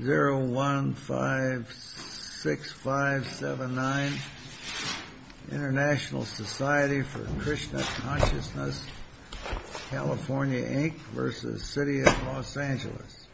0156579 International Society for Krishna Consciousness, California, Inc. v. City of Los Angeles.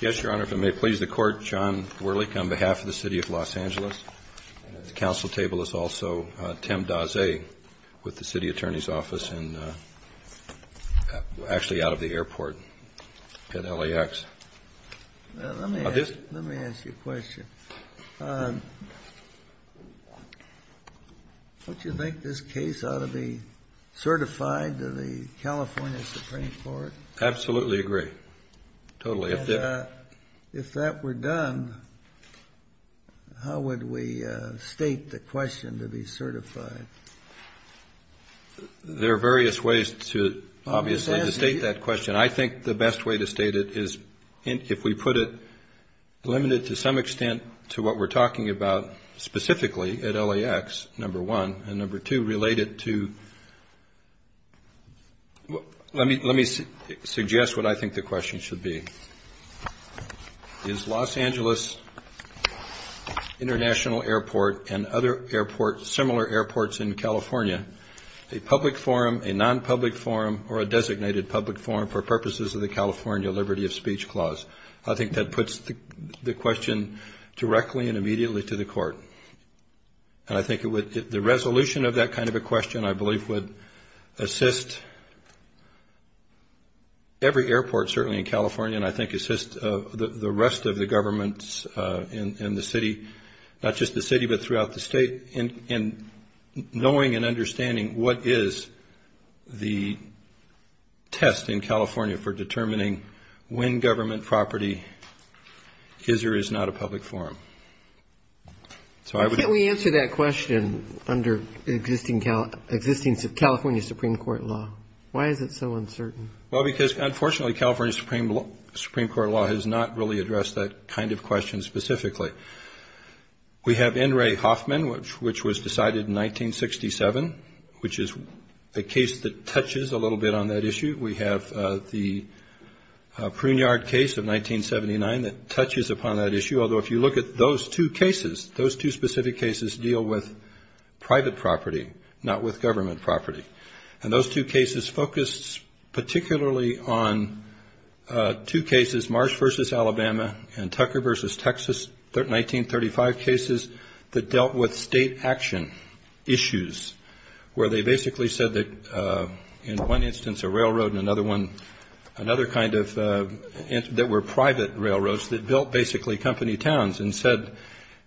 Yes, Your Honor, if it may please the Court, John Werlich on behalf of the City of Los Angeles. At the council table is also Tim Daze with the City Attorney's Office, actually out of the airport at LAX. Let me ask you a question. Don't you think this case ought to be certified to the California Supreme Court? Absolutely agree, totally. If that were done, how would we state the question to be certified? There are various ways to state that question. I think the best way to state it is if we put it limited to some extent to what we're talking about specifically at LAX, number one, and number two, relate it to, let me suggest what I think the question should be. Is Los Angeles International Airport and other similar airports in California a public forum, a non-public forum, or a designated public forum for purposes of the California Liberty of Speech Clause? I think that puts the question directly and immediately to the Court. And I think the resolution of that kind of a question, I believe, would assist every airport certainly in California and I think assist the rest of the governments in the city, not just the city but throughout the state in knowing and understanding what is the test in California for determining when government property is or is not a public forum. Why can't we answer that question under existing California Supreme Court law? Why is it so uncertain? Well, because unfortunately California Supreme Court law has not really addressed that kind of question specifically. We have N. Ray Hoffman, which was decided in 1967, which is a case that touches a little bit on that issue. We have the Pruneyard case of 1979 that touches upon that issue, although if you look at those two cases, those two specific cases deal with private property, not with government property. And those two cases focus particularly on two cases, Marsh v. Alabama and Tucker v. Texas, 1935 cases that dealt with state action issues where they basically said that in one instance a railroad and another one, another kind of that were private railroads that built basically company towns and said,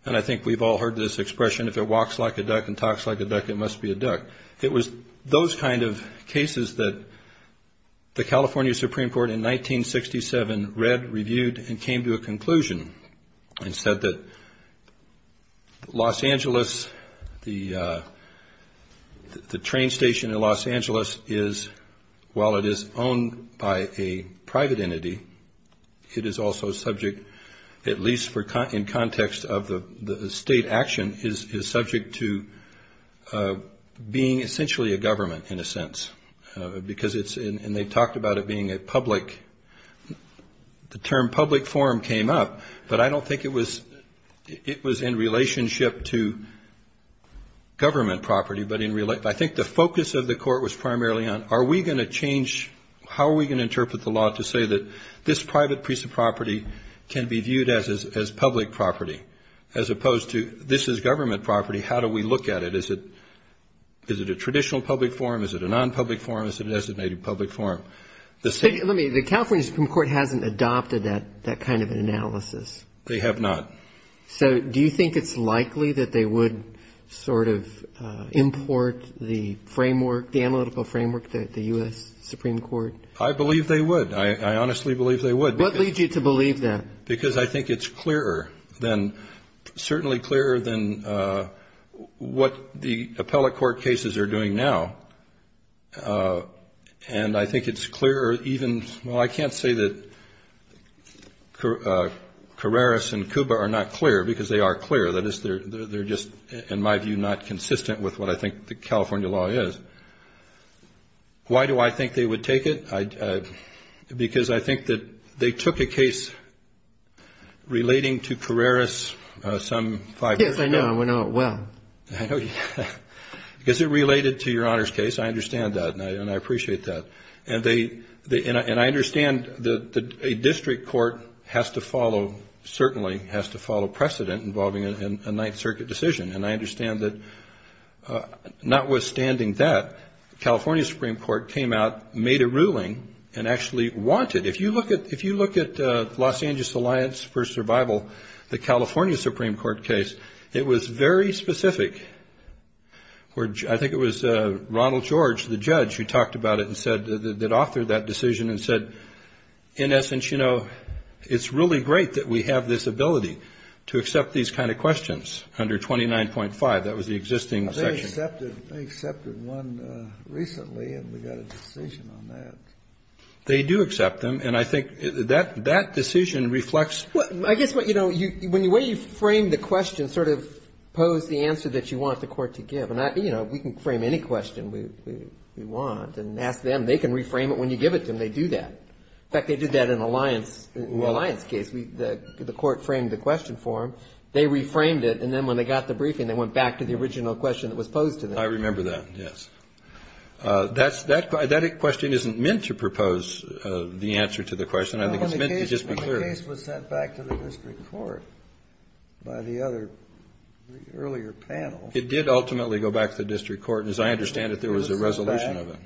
and I think we've all heard this expression, if it walks like a duck and talks like a duck, it must be a duck. It was those kind of cases that the California Supreme Court in 1967 read, reviewed, and came to a conclusion and said that Los Angeles, the train station in Los Angeles is, while it is owned by a private entity, it is also subject, at least in context of the state action, is subject to being essentially a government in a sense. And they talked about it being a public, the term public forum came up, but I don't think it was in relationship to government property. I think the focus of the court was primarily on are we going to change, how are we going to interpret the law to say that this private piece of property can be viewed as public property, as opposed to this is government property, how do we look at it? Is it a traditional public forum? Is it a non-public forum? Is it a designated public forum? Let me, the California Supreme Court hasn't adopted that kind of an analysis. They have not. So do you think it's likely that they would sort of import the framework, the analytical framework, the U.S. Supreme Court? I believe they would. I honestly believe they would. What leads you to believe that? Because I think it's clearer than, certainly clearer than what the appellate court cases are doing now. And I think it's clearer even, well, I can't say that Carreras and Kuba are not clear, because they are clear. That is, they're just, in my view, not consistent with what I think the California law is. But why do I think they would take it? Because I think that they took a case relating to Carreras some five years ago. Yes, I know. I know it well. Because it related to your Honor's case. I understand that, and I appreciate that. And I understand that a district court has to follow, certainly has to follow precedent involving a Ninth Circuit decision. And I understand that, notwithstanding that, the California Supreme Court came out, made a ruling, and actually wanted, if you look at Los Angeles Alliance for Survival, the California Supreme Court case, it was very specific. I think it was Ronald George, the judge, who talked about it and said, that authored that decision and said, in essence, you know, it's really great that we have this ability to accept these kind of questions under 29.5. That was the existing section. They accepted one recently, and we got a decision on that. They do accept them. And I think that decision reflects the question. I guess, you know, the way you framed the question sort of posed the answer that you want the court to give. And, you know, we can frame any question we want and ask them. They can reframe it when you give it to them. They do that. In fact, they did that in the Alliance case. The court framed the question for them. They reframed it, and then when they got the briefing, they went back to the original question that was posed to them. I remember that, yes. That question isn't meant to propose the answer to the question. I think it's meant to just be clear. The case was sent back to the district court by the other earlier panel. It did ultimately go back to the district court. And as I understand it, there was a resolution of it.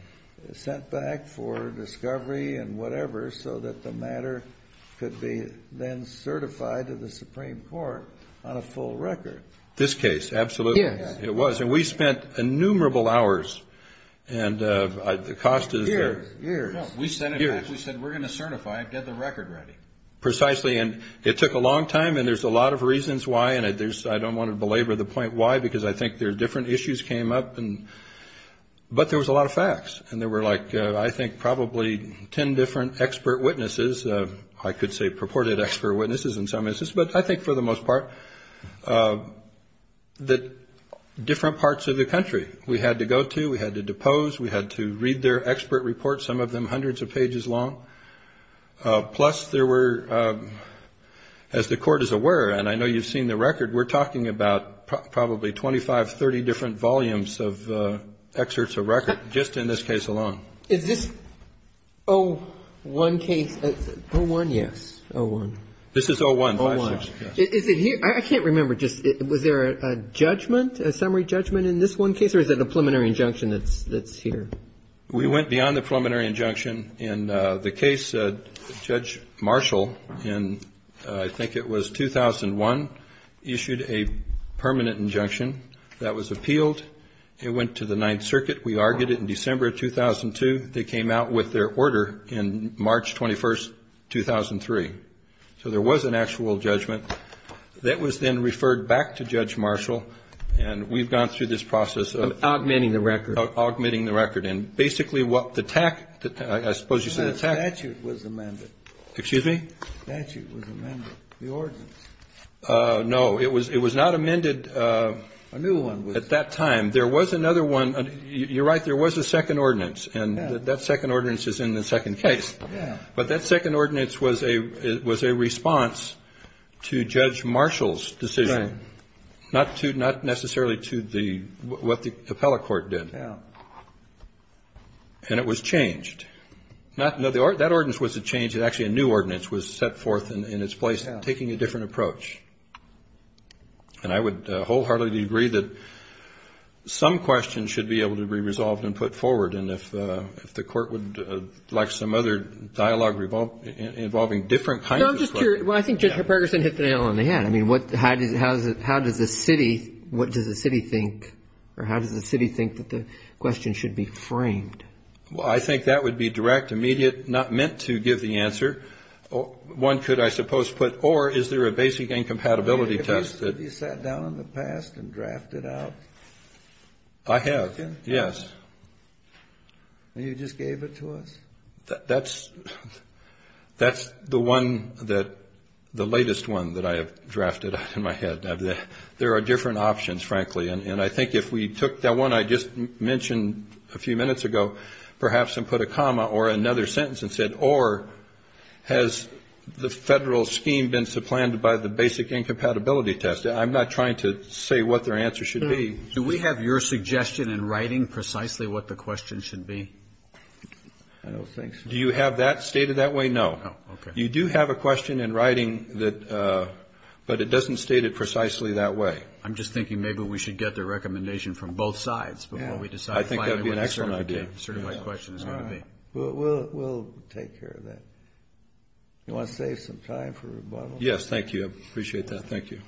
It was sent back for discovery and whatever so that the matter could be then certified to the Supreme Court on a full record. This case, absolutely. Yes. It was. And we spent innumerable hours. And the cost is there. Years. No, we sent it back. We said, we're going to certify it. Get the record ready. Precisely. And it took a long time, and there's a lot of reasons why. And I don't want to belabor the point why, because I think there are different issues came up. But there was a lot of facts. And there were like, I think, probably 10 different expert witnesses. I could say purported expert witnesses in some instances, but I think for the most part that different parts of the country we had to go to, we had to depose, we had to read their expert reports, some of them hundreds of pages long. Plus there were, as the court is aware, and I know you've seen the record, we're talking about probably 25, 30 different volumes of excerpts of record just in this case alone. Is this 01 case? 01, yes. 01. This is 01. 01. Is it here? I can't remember. Was there a judgment, a summary judgment in this one case, or is it a preliminary injunction that's here? We went beyond the preliminary injunction. In the case, Judge Marshall, in I think it was 2001, issued a permanent injunction that was appealed. It went to the Ninth Circuit. We argued it in December of 2002. They came out with their order in March 21st, 2003. So there was an actual judgment that was then referred back to Judge Marshall, and we've gone through this process of Of augmenting the record. Augmenting the record. And basically what the TAC, I suppose you said the TAC The statute was amended. Excuse me? The statute was amended. The ordinance. No, it was not amended at that time. There was another one. You're right, there was a second ordinance, and that second ordinance is in the second case. But that second ordinance was a response to Judge Marshall's decision, not necessarily to what the appellate court did. And it was changed. That ordinance wasn't changed. Actually, a new ordinance was set forth in its place, taking a different approach. And I would wholeheartedly agree that some questions should be able to be resolved and put forward. And if the court would like some other dialogue involving different kinds of stuff. No, I'm just curious. I think Judge Perkerson hit the nail on the head. I mean, how does the city think that the question should be framed? Well, I think that would be direct, immediate, not meant to give the answer. One could, I suppose, put, or is there a basic incompatibility test that Have you sat down in the past and drafted out? I have, yes. You just gave it to us? That's the one that, the latest one that I have drafted out in my head. There are different options, frankly. And I think if we took that one I just mentioned a few minutes ago, perhaps and put a comma or another sentence and said, or has the Federal scheme been supplanted by the basic incompatibility test? I'm not trying to say what their answer should be. Do we have your suggestion in writing precisely what the question should be? Do you have that stated that way? No. You do have a question in writing that, but it doesn't state it precisely that way. I'm just thinking maybe we should get the recommendation from both sides before we decide I think that would be an excellent idea. what the certificate question is going to be. We'll take care of that. You want to save some time for rebuttal? Yes, thank you. I appreciate that. Thank you.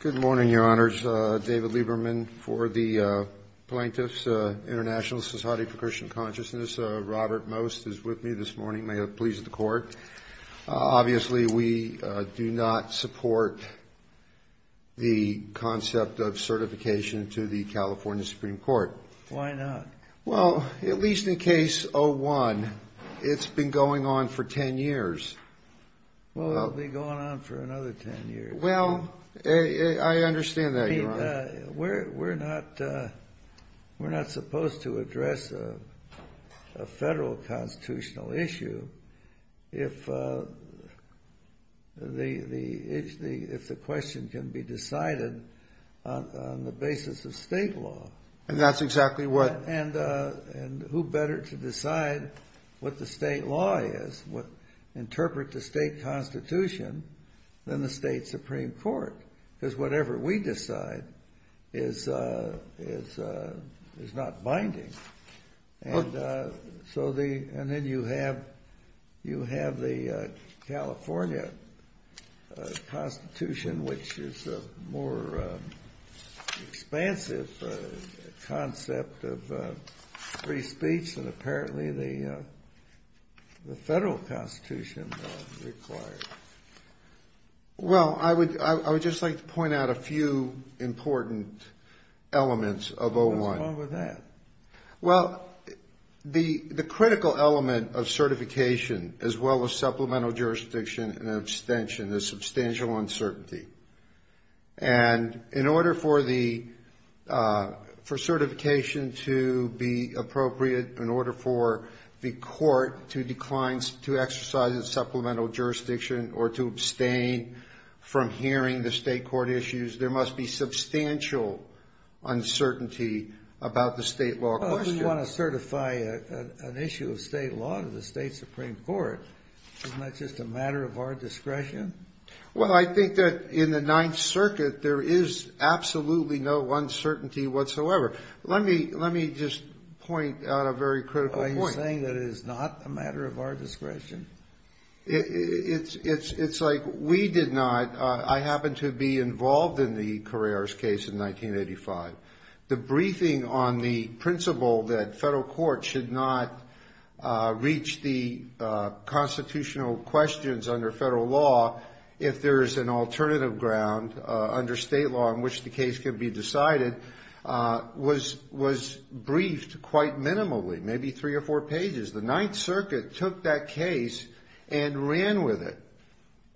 Good morning, Your Honors. David Lieberman for the Plaintiffs International Society for Christian Consciousness. Robert Most is with me this morning. May it please the Court. Obviously, we do not support the concept of certification to the California Supreme Court. Why not? Well, at least in Case 01, it's been going on for 10 years. Well, it'll be going on for another 10 years. Well, I understand that, Your Honor. We're not supposed to address a federal constitutional issue if the question can be decided on the basis of state law. And that's exactly what... And who better to decide what the state law is, what interpret the state constitution, than the state Supreme Court? Because whatever we decide is not binding. And then you have the California Constitution, which is a more expansive concept of free speech. And apparently, the federal constitution requires it. Well, I would just like to point out a few important elements of 01. What's wrong with that? Well, the critical element of certification, as well as supplemental jurisdiction and abstention, is substantial uncertainty. And in order for certification to be appropriate, in order for the court to decline to exercise supplemental jurisdiction or to abstain from hearing the state court issues, there must be substantial uncertainty about the state law question. Well, if we want to certify an issue of state law to the state Supreme Court, isn't that just a matter of our discretion? Well, I think that in the Ninth Circuit, there is absolutely no uncertainty whatsoever. Let me just point out a very critical point. Are you saying that it is not a matter of our discretion? It's like we did not... I happened to be involved in the Carreras case in 1985. The briefing on the principle that federal courts should not reach the constitutional questions under federal law, if there is an alternative ground under state law in which the case can be decided, was briefed quite minimally, maybe three or four pages. The Ninth Circuit took that case and ran with it.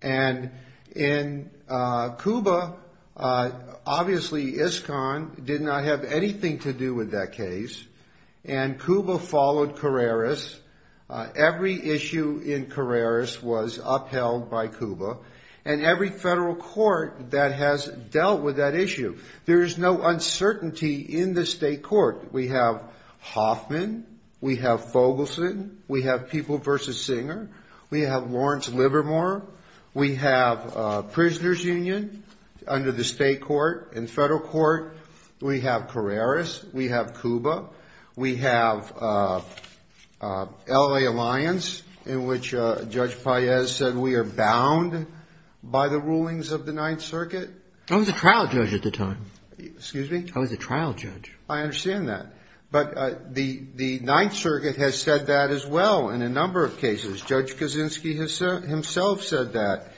And in Cuba, obviously ISCON did not have anything to do with that case, and Cuba followed Carreras. Every issue in Carreras was upheld by Cuba, and every federal court that has dealt with that issue. There is no uncertainty in the state court. We have Hoffman. We have Fogelson. We have People v. Singer. We have Lawrence Livermore. We have Prisoners Union under the state court. In federal court, we have Carreras. We have Cuba. We have L.A. Alliance, in which Judge Paez said we are bound by the rulings of the Ninth Circuit. I was a trial judge at the time. Excuse me? I was a trial judge. I understand that. But the Ninth Circuit has said that as well in a number of cases. Judge Kaczynski himself said that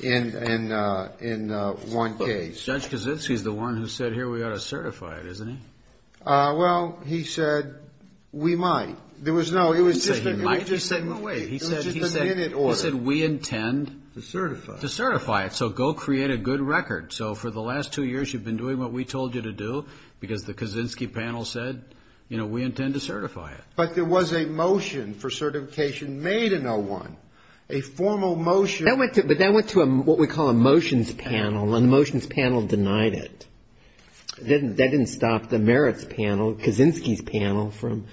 in one case. Judge Kaczynski is the one who said, here, we ought to certify it, isn't he? Well, he said, we might. There was no, it was just a minute order. He said, we intend to certify it, so go create a good record. So for the last two years, you've been doing what we told you to do because the Kaczynski panel said, you know, we intend to certify it. But there was a motion for certification made in 01, a formal motion. But that went to what we call a motions panel, and the motions panel denied it. That didn't stop the merits panel, Kaczynski's panel, from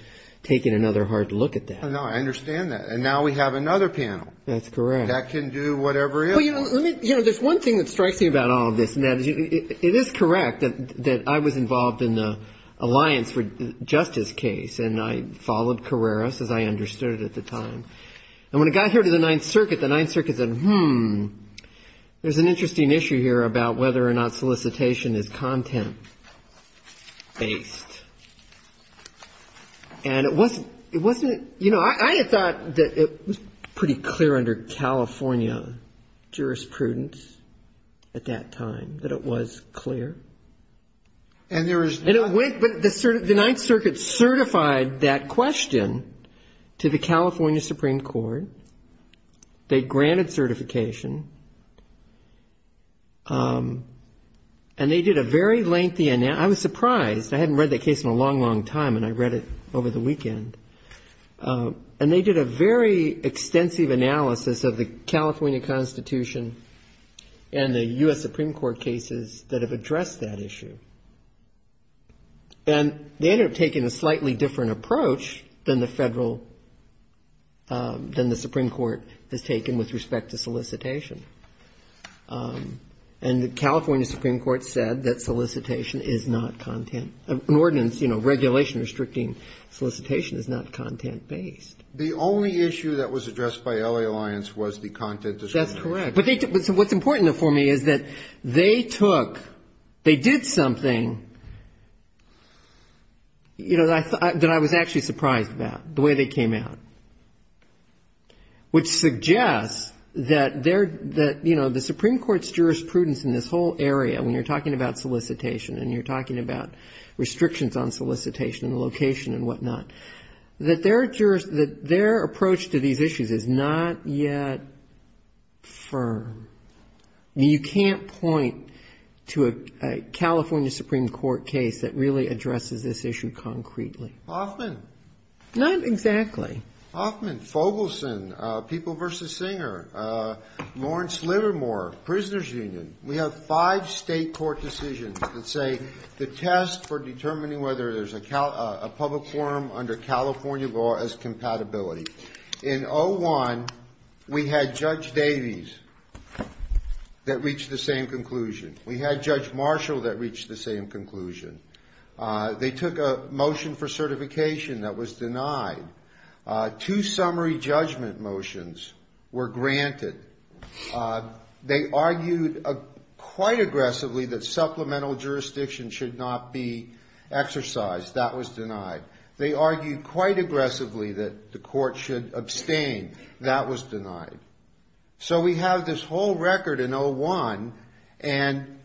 taking another hard look at that. No, I understand that. And now we have another panel. That's correct. That can do whatever it is. Well, you know, there's one thing that strikes me about all of this. It is correct that I was involved in the alliance for justice case, and I followed Carreras, as I understood it at the time. And when it got here to the Ninth Circuit, the Ninth Circuit said, hmm, there's an interesting issue here about whether or not solicitation is content-based. And it wasn't, it wasn't, you know, I had thought that it was pretty clear under California jurisprudence at that time that it was clear. And there was no way. But the Ninth Circuit certified that question to the California Supreme Court. They granted certification. And they did a very lengthy analysis. And I was surprised. I hadn't read that case in a long, long time, and I read it over the weekend. And they did a very extensive analysis of the California Constitution and the U.S. Supreme Court cases that have addressed that issue. And they ended up taking a slightly different approach than the federal, than the Supreme Court has taken with respect to solicitation. And the California Supreme Court said that solicitation is not content. An ordinance, you know, regulation restricting solicitation is not content-based. The only issue that was addressed by L.A. Alliance was the content discrimination. That's correct. But what's important for me is that they took, they did something, you know, that I was actually surprised about, the way they came out, which suggests that, you know, the Supreme Court's jurisprudence in this whole area, when you're talking about solicitation and you're talking about restrictions on solicitation and location and whatnot, that their approach to these issues is not yet firm. You can't point to a California Supreme Court case that really addresses this issue concretely. Hoffman. Not exactly. Hoffman, Fogelson, People v. Singer, Lawrence Livermore, Prisoners Union. We have five state court decisions that say the test for determining whether there's a public forum under California law is compatibility. In 01, we had Judge Davies that reached the same conclusion. We had Judge Marshall that reached the same conclusion. They took a motion for certification that was denied. Two summary judgment motions were granted. They argued quite aggressively that supplemental jurisdiction should not be exercised. That was denied. They argued quite aggressively that the court should abstain. That was denied. So we have this whole record in 01, and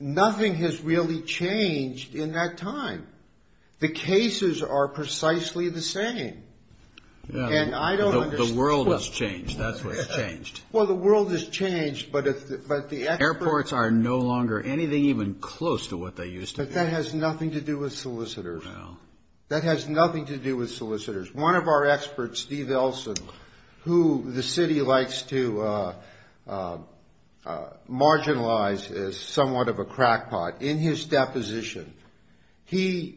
nothing has really changed in that time. The cases are precisely the same. The world has changed. That's what's changed. Well, the world has changed, but the experts... Airports are no longer anything even close to what they used to be. But that has nothing to do with solicitors. No. That has nothing to do with solicitors. One of our experts, Steve Elson, who the city likes to marginalize as somewhat of a crackpot, in his deposition, he's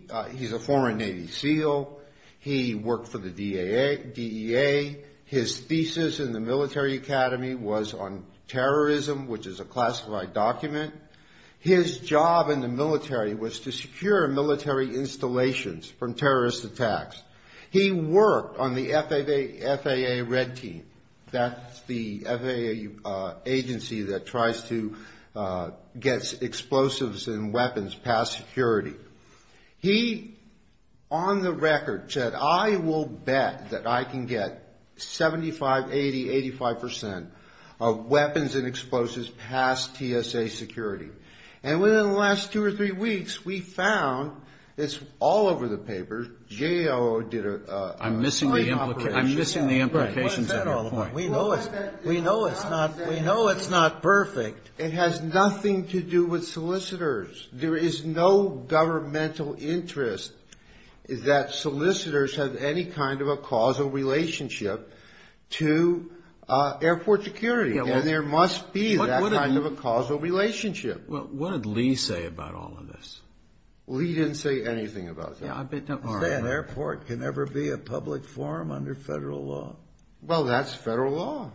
a former Navy SEAL. He worked for the DEA. His thesis in the Military Academy was on terrorism, which is a classified document. His job in the military was to secure military installations from terrorist attacks. He worked on the FAA Red Team. That's the FAA agency that tries to get explosives and weapons past security. He, on the record, said, I will bet that I can get 75, 80, 85 percent of weapons and explosives past TSA security. And within the last two or three weeks, we found, it's all over the papers, GAO did a... I'm missing the implications of your point. We know it's not perfect. It has nothing to do with solicitors. There is no governmental interest that solicitors have any kind of a causal relationship to airport security. And there must be that kind of a causal relationship. What did Lee say about all of this? Lee didn't say anything about that. He said an airport can never be a public forum under federal law. Well, that's federal law.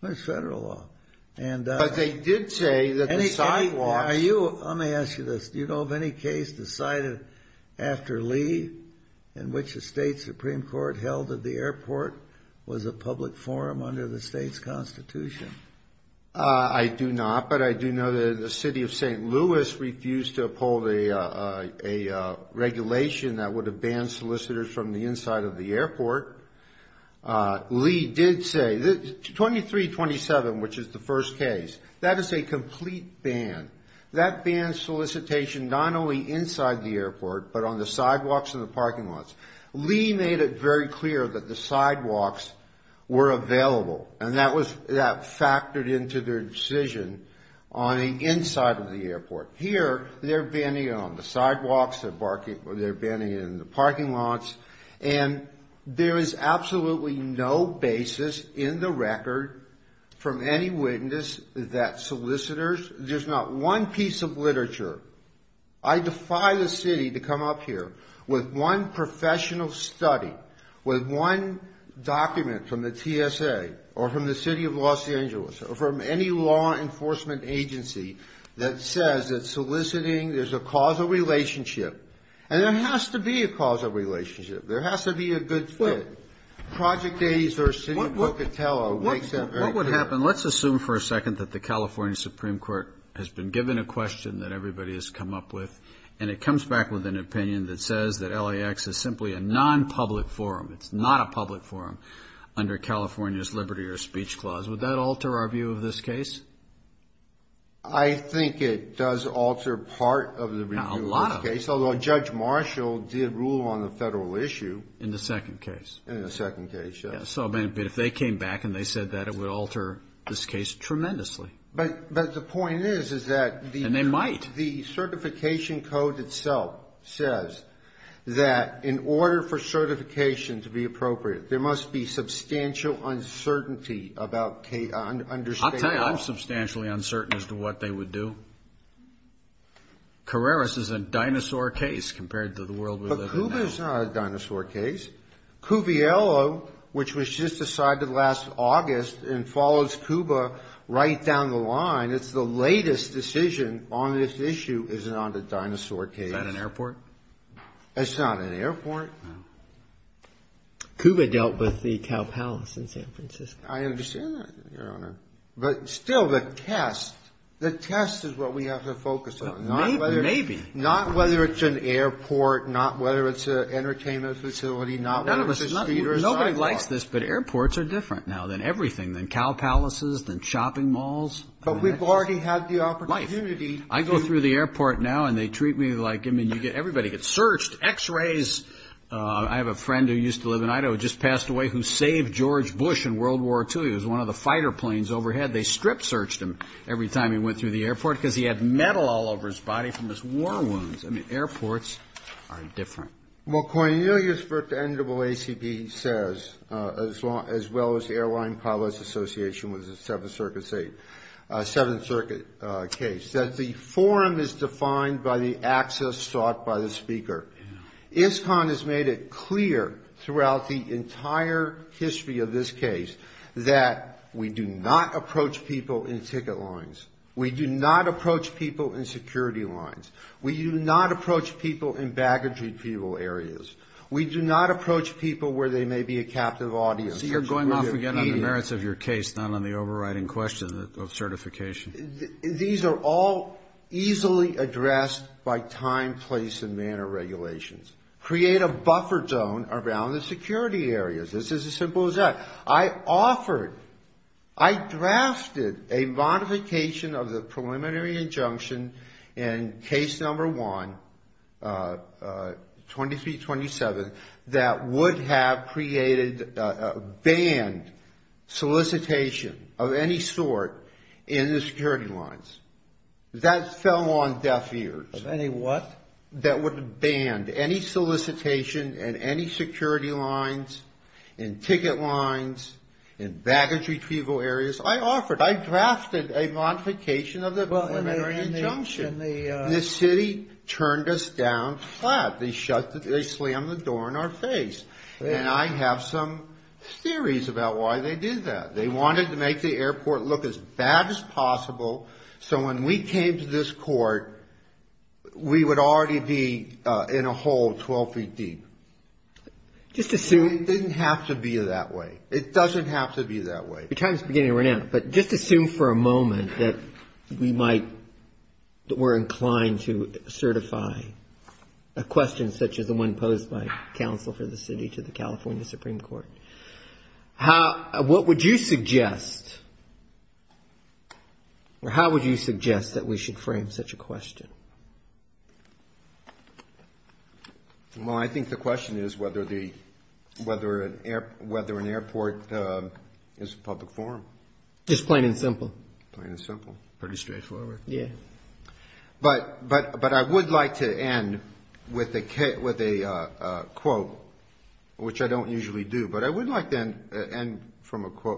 That's federal law. But they did say that the sidewalks... Let me ask you this. Do you know of any case decided after Lee in which the state Supreme Court held that the airport was a public forum under the state's Constitution? I do not, but I do know that the city of St. Louis refused to uphold a regulation that would have banned solicitors from the inside of the airport. Lee did say... 2327, which is the first case, that is a complete ban. That bans solicitation not only inside the airport, but on the sidewalks and the parking lots. Lee made it very clear that the sidewalks were available. And that factored into their decision on the inside of the airport. Here, they're banning it on the sidewalks. They're banning it in the parking lots. And there is absolutely no basis in the record from any witness that solicitors... There's not one piece of literature. I defy the city to come up here with one professional study, with one document from the TSA, or from the city of Los Angeles, or from any law enforcement agency, that says that soliciting... There's a causal relationship. And there has to be a causal relationship. There has to be a good fit. What would happen? Let's assume for a second that the California Supreme Court has been given a question that everybody has come up with. And it comes back with an opinion that says that LAX is simply a nonpublic forum. It's not a public forum under California's liberty or speech clause. Would that alter our view of this case? I think it does alter part of the review of this case. A lot of it. Although Judge Marshall did rule on the Federal issue. In the second case. In the second case, yes. But if they came back and they said that, it would alter this case tremendously. But the point is, is that... And they might. The certification code itself says that in order for certification to be appropriate, there must be substantial uncertainty about understanding... I'll tell you, I'm substantially uncertain as to what they would do. Carreras is a dinosaur case compared to the world we live in now. Cuba is not a dinosaur case. Cuviello, which was just decided last August and follows Cuba right down the line, it's the latest decision on this issue is not a dinosaur case. Is that an airport? It's not an airport. Cuba dealt with the Cow Palace in San Francisco. I understand that, Your Honor. But still, the test, the test is what we have to focus on. Maybe, maybe. Not whether it's an airport, not whether it's an entertainment facility, not whether it's a street or a sidewalk. Nobody likes this, but airports are different now than everything, than cow palaces, than shopping malls. But we've already had the opportunity... Life. I go through the airport now and they treat me like, I mean, everybody gets searched. X-rays. I have a friend who used to live in Idaho, just passed away, who saved George Bush in World War II. He was one of the fighter planes overhead. They strip-searched him every time he went through the airport because he had metal all over his body from his war wounds. I mean, airports are different. McCoy, you know what the NAACP says, as well as the Airline Pilots Association, which is a Seventh Circuit case, that the forum is defined by the access sought by the speaker. ISCON has made it clear throughout the entire history of this case that we do not approach people in ticket lines. We do not approach people in security lines. We do not approach people in baggage-retrieval areas. We do not approach people where they may be a captive audience. So you're going off again on the merits of your case, not on the overriding question of certification. These are all easily addressed by time, place, and manner regulations. Create a buffer zone around the security areas. This is as simple as that. I offered, I drafted a modification of the preliminary injunction in case number one, 2327, that would have created a banned solicitation of any sort in the security lines. That fell on deaf ears. Of any what? That would have banned any solicitation in any security lines, in ticket lines, in baggage-retrieval areas. I offered. I drafted a modification of the preliminary injunction. The city turned us down flat. They slammed the door in our face. And I have some theories about why they did that. They wanted to make the airport look as bad as possible, so when we came to this court, we would already be in a hole 12 feet deep. It didn't have to be that way. It doesn't have to be that way. Your time is beginning to run out, but just assume for a moment that we might, that we're inclined to certify a question such as the one posed by counsel for the city to the California Supreme Court. What would you suggest? How would you suggest that we should frame such a question? Well, I think the question is whether an airport is a public forum. Just plain and simple. Plain and simple. Pretty straightforward. Yeah. But I would like to end with a quote, which I don't usually do, but I would like to end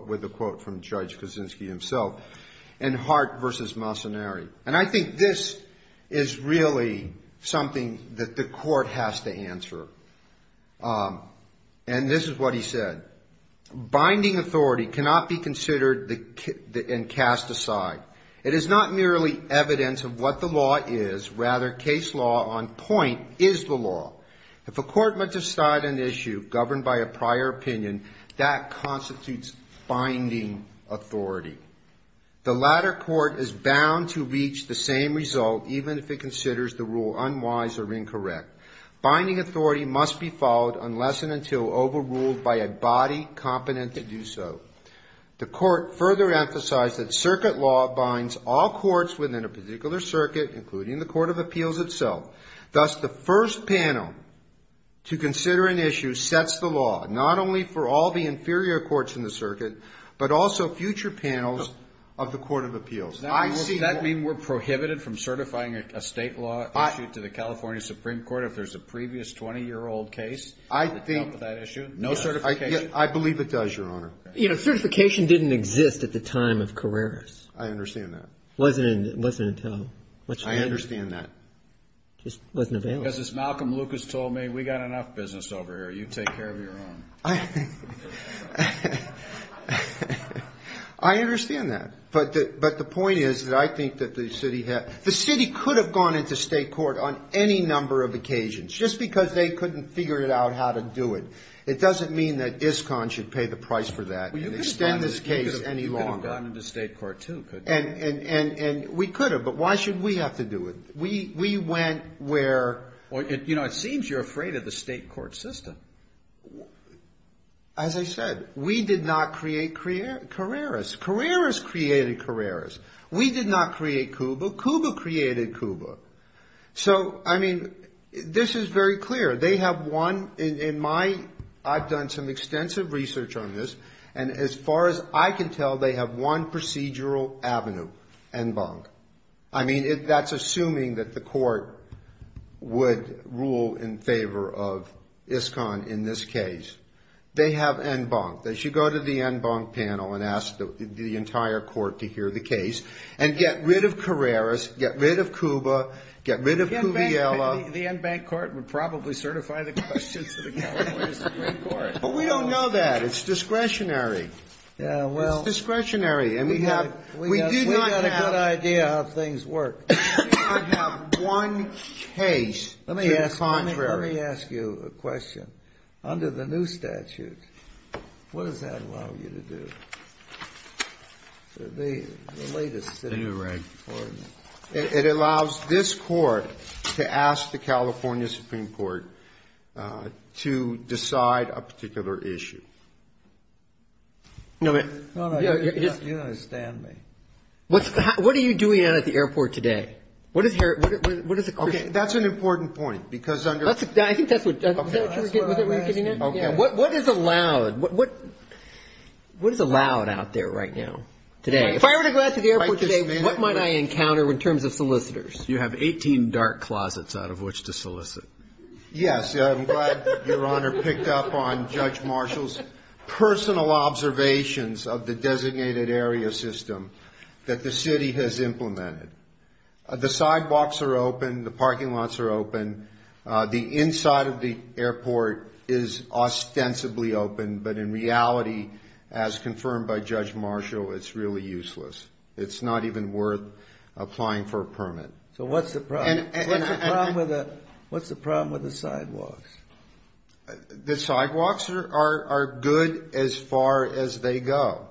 with a quote from Judge Kuczynski himself in Hart v. Mocenari. And I think this is really something that the court has to answer. And this is what he said. Binding authority cannot be considered and cast aside. It is not merely evidence of what the law is. Rather, case law on point is the law. If a court must decide an issue governed by a prior opinion, that constitutes binding authority. The latter court is bound to reach the same result even if it considers the rule unwise or incorrect. Binding authority must be followed unless and until overruled by a body competent to do so. The court further emphasized that circuit law binds all courts within a particular circuit, including the court of appeals itself. Thus, the first panel to consider an issue sets the law, not only for all the inferior courts in the circuit, but also future panels of the court of appeals. Does that mean we're prohibited from certifying a state law issue to the California Supreme Court if there's a previous 20-year-old case that dealt with that issue? No certification? I believe it does, Your Honor. You know, certification didn't exist at the time of Carreras. I understand that. It wasn't until much later. I understand that. It just wasn't available. Because as Malcolm Lucas told me, we've got enough business over here. You take care of your own. I understand that. But the point is that I think that the city could have gone into state court on any number of occasions just because they couldn't figure out how to do it. It doesn't mean that ISCON should pay the price for that and extend this case any longer. You could have gone into state court, too, couldn't you? And we could have. But why should we have to do it? We went where? You know, it seems you're afraid of the state court system. As I said, we did not create Carreras. Carreras created Carreras. We did not create Cuba. Cuba created Cuba. So, I mean, this is very clear. They have one in my ‑‑ I've done some extensive research on this. And as far as I can tell, they have one procedural avenue, en banc. I mean, that's assuming that the court would rule in favor of ISCON in this case. They have en banc. They should go to the en banc panel and ask the entire court to hear the case and get rid of Carreras, get rid of Cuba, get rid of Cuviela. The en banc court would probably certify the questions to the California Supreme Court. But we don't know that. It's discretionary. It's discretionary. We do not have ‑‑ We've got a good idea how things work. We do not have one case to the contrary. Let me ask you a question. Under the new statute, what does that allow you to do? The latest city court. It allows this court to ask the California Supreme Court to decide a particular issue. All right. You understand me. What are you doing out at the airport today? Okay. That's an important point. I think that's what ‑‑ Okay. That's what I'm asking. Okay. What is allowed? What is allowed out there right now, today? If I were to go out to the airport today, what might I encounter in terms of solicitors? You have 18 dark closets out of which to solicit. Yes. I'm glad Your Honor picked up on Judge Marshall's personal observations of the designated area system that the city has implemented. The sidewalks are open. The parking lots are open. The inside of the airport is ostensibly open. But in reality, as confirmed by Judge Marshall, it's really useless. It's not even worth applying for a permit. So what's the problem? What's the problem with the sidewalks? The sidewalks are good as far as they go.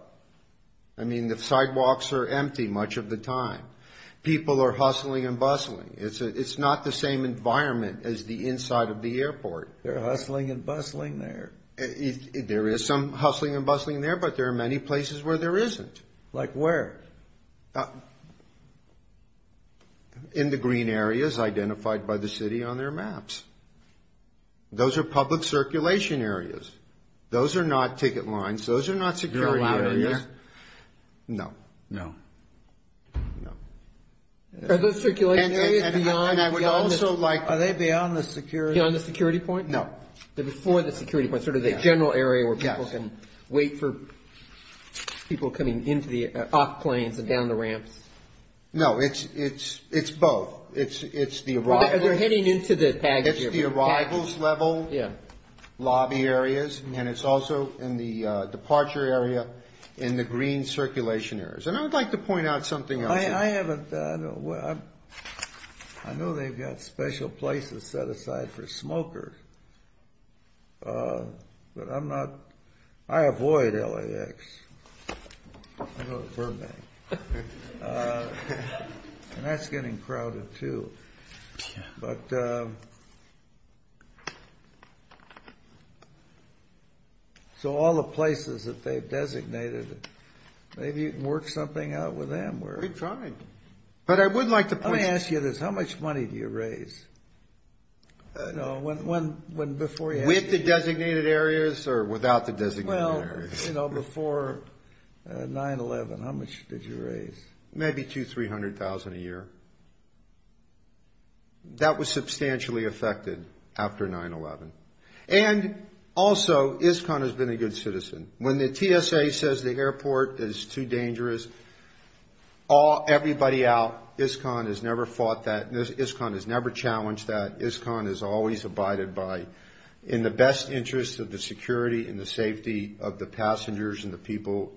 I mean, the sidewalks are empty much of the time. People are hustling and bustling. It's not the same environment as the inside of the airport. They're hustling and bustling there. There is some hustling and bustling there, but there are many places where there isn't. Like where? In the green areas identified by the city on their maps. Those are public circulation areas. Those are not ticket lines. Those are not security areas. You're allowed in there? No. No. No. Are those circulation areas beyond the security? Beyond the security point? No. Before the security point, sort of the general area where people can wait for people coming off planes and down the ramps? No. It's both. It's the arrivals level lobby areas, and it's also in the departure area, in the green circulation areas. And I would like to point out something else. I know they've got special places set aside for smokers, but I avoid LAX. I go to Burbank. And that's getting crowded, too. Okay. So all the places that they've designated, maybe you can work something out with them. We're trying. But I would like to point – Let me ask you this. How much money do you raise? With the designated areas or without the designated areas? Before 9-11, how much did you raise? Maybe $200,000, $300,000 a year. That was substantially affected after 9-11. And also, ISCON has been a good citizen. When the TSA says the airport is too dangerous, everybody out. ISCON has never fought that. ISCON has never challenged that. ISCON is always abided by in the best interest of the security and the safety of the passengers and the people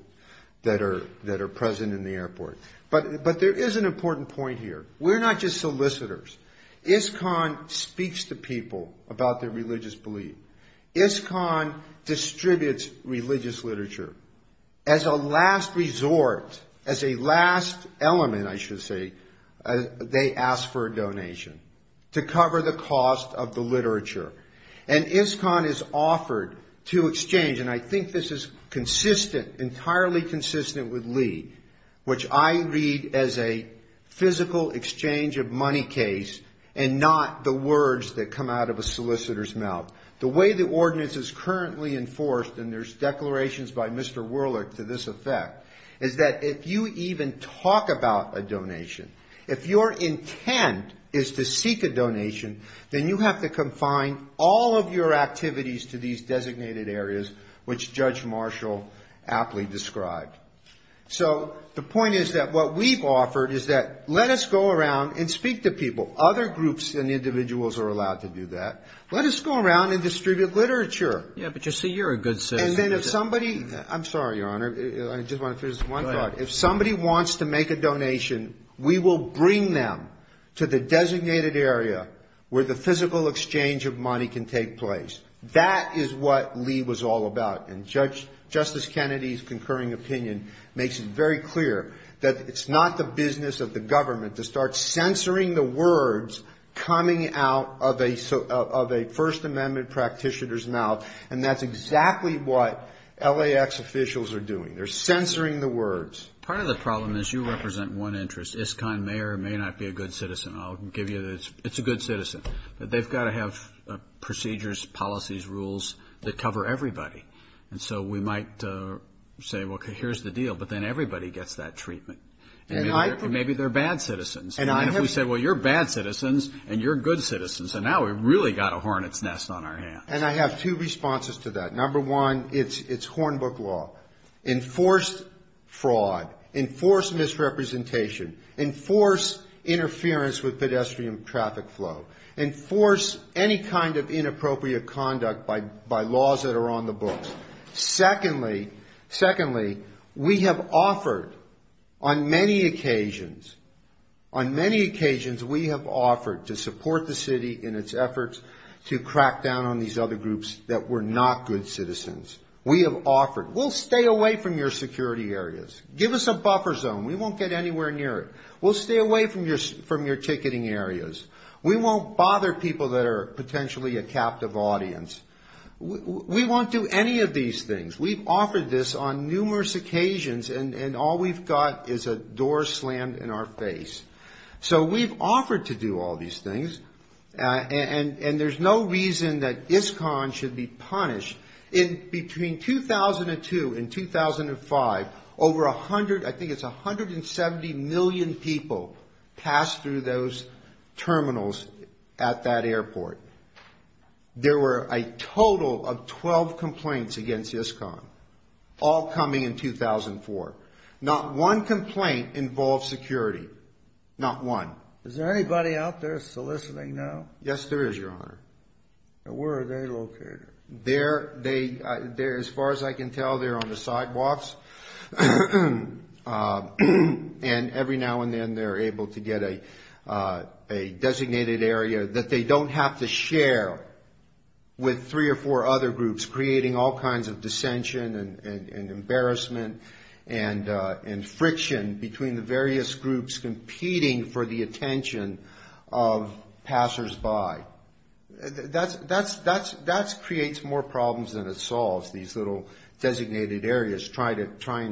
that are present in the airport. But there is an important point here. We're not just solicitors. ISCON speaks to people about their religious belief. ISCON distributes religious literature. As a last resort, as a last element, I should say, they ask for a donation to cover the cost of the literature. And ISCON is offered to exchange – and I think this is consistent, entirely consistent with Lee, which I read as a physical exchange of money case and not the words that come out of a solicitor's mouth. The way the ordinance is currently enforced, and there's declarations by Mr. Werlich to this effect, is that if you even talk about a donation, if your intent is to seek a donation, then you have to confine all of your activities to these designated areas, which Judge Marshall aptly described. So the point is that what we've offered is that let us go around and speak to people. Other groups and individuals are allowed to do that. Let us go around and distribute literature. And then if somebody – I'm sorry, Your Honor. I just want to finish one thought. If somebody wants to make a donation, we will bring them to the designated area where the physical exchange of money can take place. That is what Lee was all about. And Justice Kennedy's concurring opinion makes it very clear that it's not the business of the government to start censoring the words coming out of a First Amendment practitioner's mouth, and that's exactly what LAX officials are doing. They're censoring the words. Part of the problem is you represent one interest. ISCON may or may not be a good citizen. I'll give you the – it's a good citizen. But they've got to have procedures, policies, rules that cover everybody. And so we might say, well, here's the deal, but then everybody gets that treatment. And maybe they're bad citizens. And if we say, well, you're bad citizens and you're good citizens, and now we've really got a hornet's nest on our hands. And I have two responses to that. Number one, it's Hornbook law. Enforce fraud. Enforce misrepresentation. Enforce interference with pedestrian traffic flow. Enforce any kind of inappropriate conduct by laws that are on the books. Secondly, we have offered on many occasions – on many occasions we have offered to support the city in its efforts to crack down on these other groups that were not good citizens. We have offered, we'll stay away from your security areas. Give us a buffer zone. We won't get anywhere near it. We'll stay away from your ticketing areas. We won't bother people that are potentially a captive audience. We won't do any of these things. We've offered this on numerous occasions, and all we've got is a door slammed in our face. So we've offered to do all these things, and there's no reason that ISCON should be punished. Between 2002 and 2005, over 100 – I think it's 170 million people passed through those terminals at that airport. There were a total of 12 complaints against ISCON, all coming in 2004. Not one complaint involved security. Not one. Is there anybody out there soliciting now? Yes, there is, Your Honor. And where are they located? They're – as far as I can tell, they're on the sidewalks. And every now and then they're able to get a designated area that they don't have to share with three or four other groups, which is creating all kinds of dissension and embarrassment and friction between the various groups competing for the attention of passersby. That creates more problems than it solves, these little designated areas, trying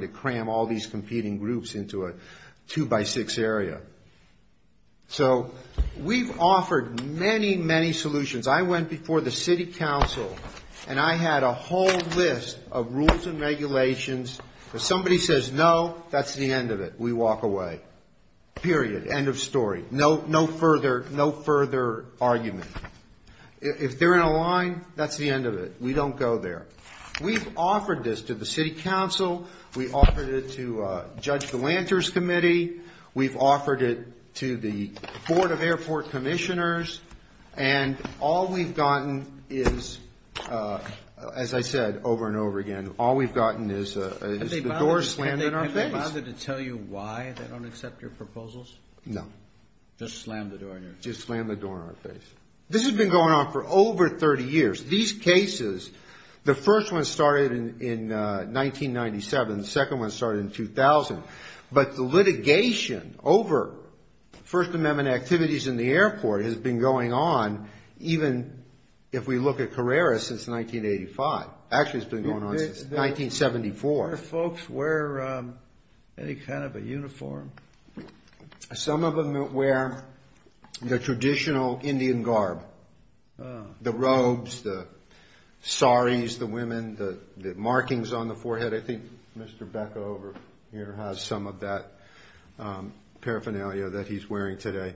to cram all these competing groups into a two-by-six area. So we've offered many, many solutions. I went before the city council, and I had a whole list of rules and regulations. If somebody says no, that's the end of it. We walk away. Period. End of story. No further argument. If they're in a line, that's the end of it. We don't go there. We've offered this to the city council. We offered it to Judge Galanter's committee. We've offered it to the Board of Airport Commissioners. And all we've gotten is, as I said over and over again, all we've gotten is the door slammed in our face. Have they bothered to tell you why they don't accept your proposals? No. Just slammed the door in your face. Just slammed the door in our face. This has been going on for over 30 years. These cases, the first one started in 1997, the second one started in 2000. But the litigation over First Amendment activities in the airport has been going on, even if we look at Carrera since 1985. Actually, it's been going on since 1974. Do folks wear any kind of a uniform? Some of them wear the traditional Indian garb. The robes, the saris, the women, the markings on the forehead. But I think Mr. Becker over here has some of that paraphernalia that he's wearing today.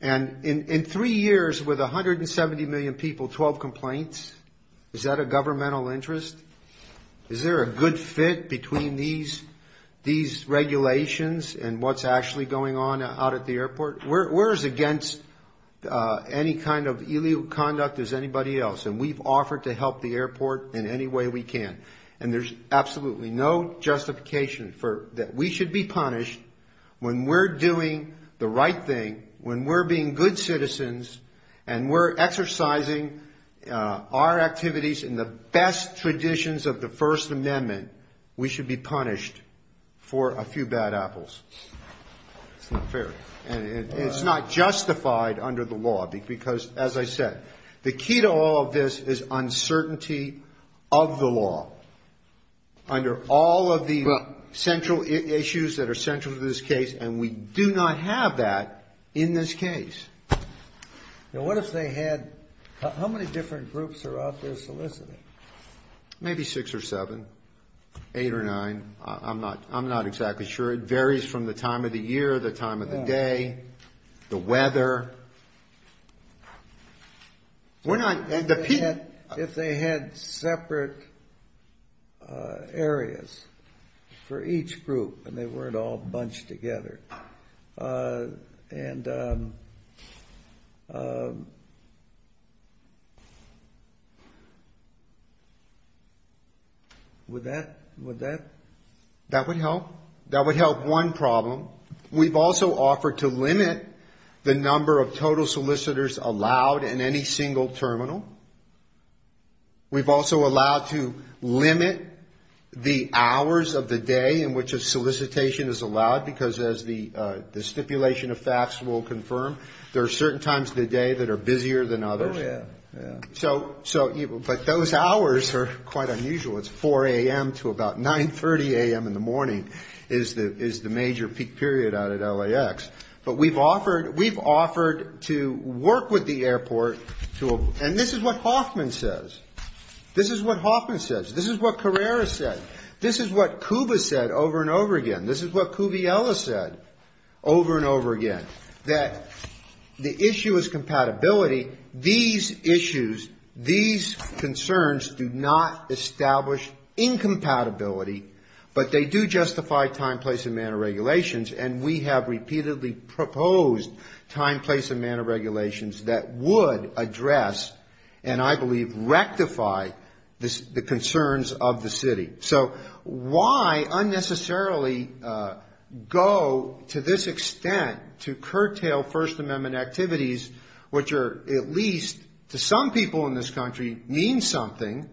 And in three years with 170 million people, 12 complaints, is that a governmental interest? Is there a good fit between these regulations and what's actually going on out at the airport? We're as against any kind of illegal conduct as anybody else. And we've offered to help the airport in any way we can. And there's absolutely no justification that we should be punished when we're doing the right thing, when we're being good citizens and we're exercising our activities in the best traditions of the First Amendment, we should be punished for a few bad apples. It's not fair. And it's not justified under the law because, as I said, the key to all of this is uncertainty of the law. Under all of the central issues that are central to this case, and we do not have that in this case. Now, what if they had – how many different groups are out there soliciting? Maybe six or seven, eight or nine. I'm not – I'm not exactly sure. It varies from the time of the year, the time of the day, the weather. We're not – and the – If they had separate areas for each group and they weren't all bunched together. And would that – would that – that would help? That would help one problem. We've also offered to limit the number of total solicitors allowed in any single terminal. We've also allowed to limit the hours of the day in which a solicitation is allowed, because as the stipulation of facts will confirm, there are certain times of the day that are busier than others. Oh, yeah. So – but those hours are quite unusual. It's 4 a.m. to about 9.30 a.m. in the morning is the major peak period out at LAX. But we've offered – we've offered to work with the airport to – and this is what Hoffman says. This is what Hoffman says. This is what Carrera said. This is what Kuba said over and over again. This is what Kuviela said over and over again, that the issue is compatibility. These issues, these concerns do not establish incompatibility, but they do justify time, place and manner regulations. And we have repeatedly proposed time, place and manner regulations that would address and I believe rectify the concerns of the city. So why unnecessarily go to this extent to curtail First Amendment activities, which are at least to some people in this country mean something?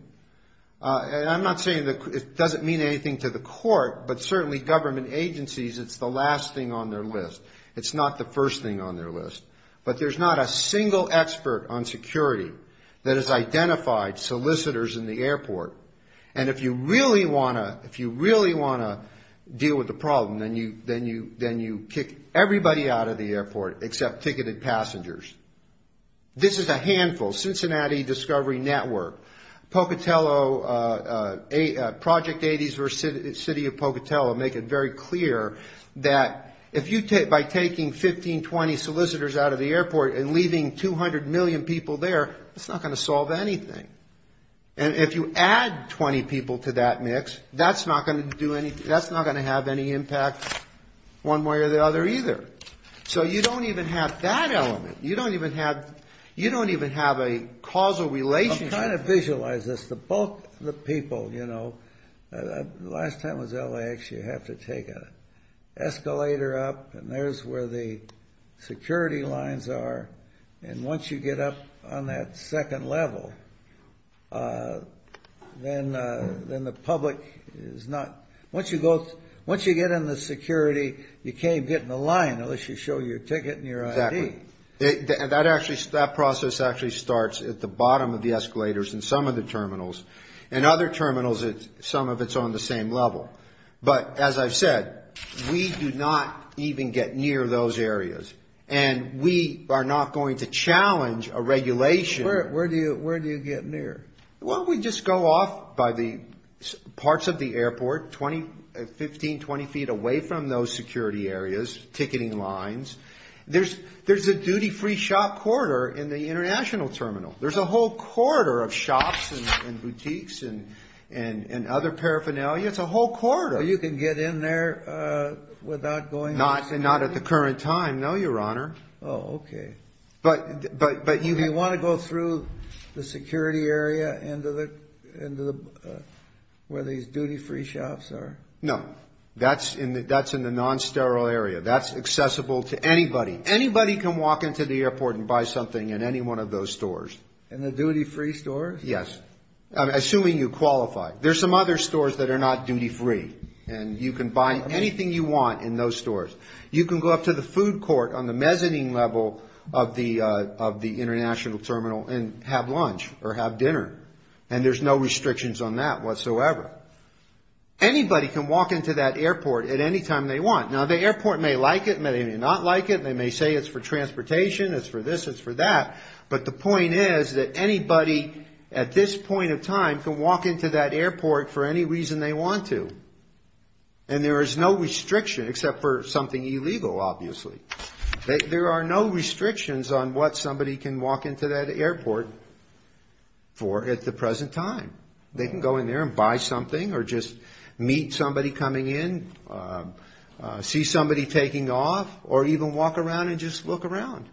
And I'm not saying it doesn't mean anything to the court, but certainly government agencies, it's the last thing on their list. It's not the first thing on their list. But there's not a single expert on security that has identified solicitors in the airport. And if you really want to – if you really want to deal with the problem, then you kick everybody out of the airport except ticketed passengers. This is a handful. Cincinnati Discovery Network, Pocatello, Project 80 versus City of Pocatello make it very clear that if you take – by taking 15, 20 solicitors out of the airport and leaving 200 million people there, it's not going to solve anything. And if you add 20 people to that mix, that's not going to do anything. That's not going to have any impact one way or the other either. So you don't even have that element. You don't even have – you don't even have a causal relationship. I'm trying to visualize this. The people, you know, last time it was LAX, you have to take an escalator up, and there's where the security lines are. And once you get up on that second level, then the public is not – once you get in the security, you can't get in the line unless you show your ticket and your ID. That actually – that process actually starts at the bottom of the escalators in some of the terminals. In other terminals, some of it's on the same level. But as I've said, we do not even get near those areas. And we are not going to challenge a regulation. Where do you get near? Well, we just go off by the parts of the airport, 15, 20 feet away from those security areas, ticketing lines. There's a duty-free shop corridor in the international terminal. There's a whole corridor of shops and boutiques and other paraphernalia. It's a whole corridor. You can get in there without going through security? Not at the current time, no, Your Honor. Oh, okay. But you – Do you want to go through the security area into the – where these duty-free shops are? No. That's in the non-sterile area. That's accessible to anybody. Anybody can walk into the airport and buy something in any one of those stores. In the duty-free stores? Yes, assuming you qualify. There's some other stores that are not duty-free. And you can buy anything you want in those stores. You can go up to the food court on the mezzanine level of the international terminal and have lunch or have dinner. And there's no restrictions on that whatsoever. Anybody can walk into that airport at any time they want. Now, the airport may like it, may not like it. They may say it's for transportation, it's for this, it's for that. But the point is that anybody at this point of time can walk into that airport for any reason they want to. And there is no restriction except for something illegal, obviously. There are no restrictions on what somebody can walk into that airport for at the present time. They can go in there and buy something or just meet somebody coming in, see somebody taking off, or even walk around and just look around.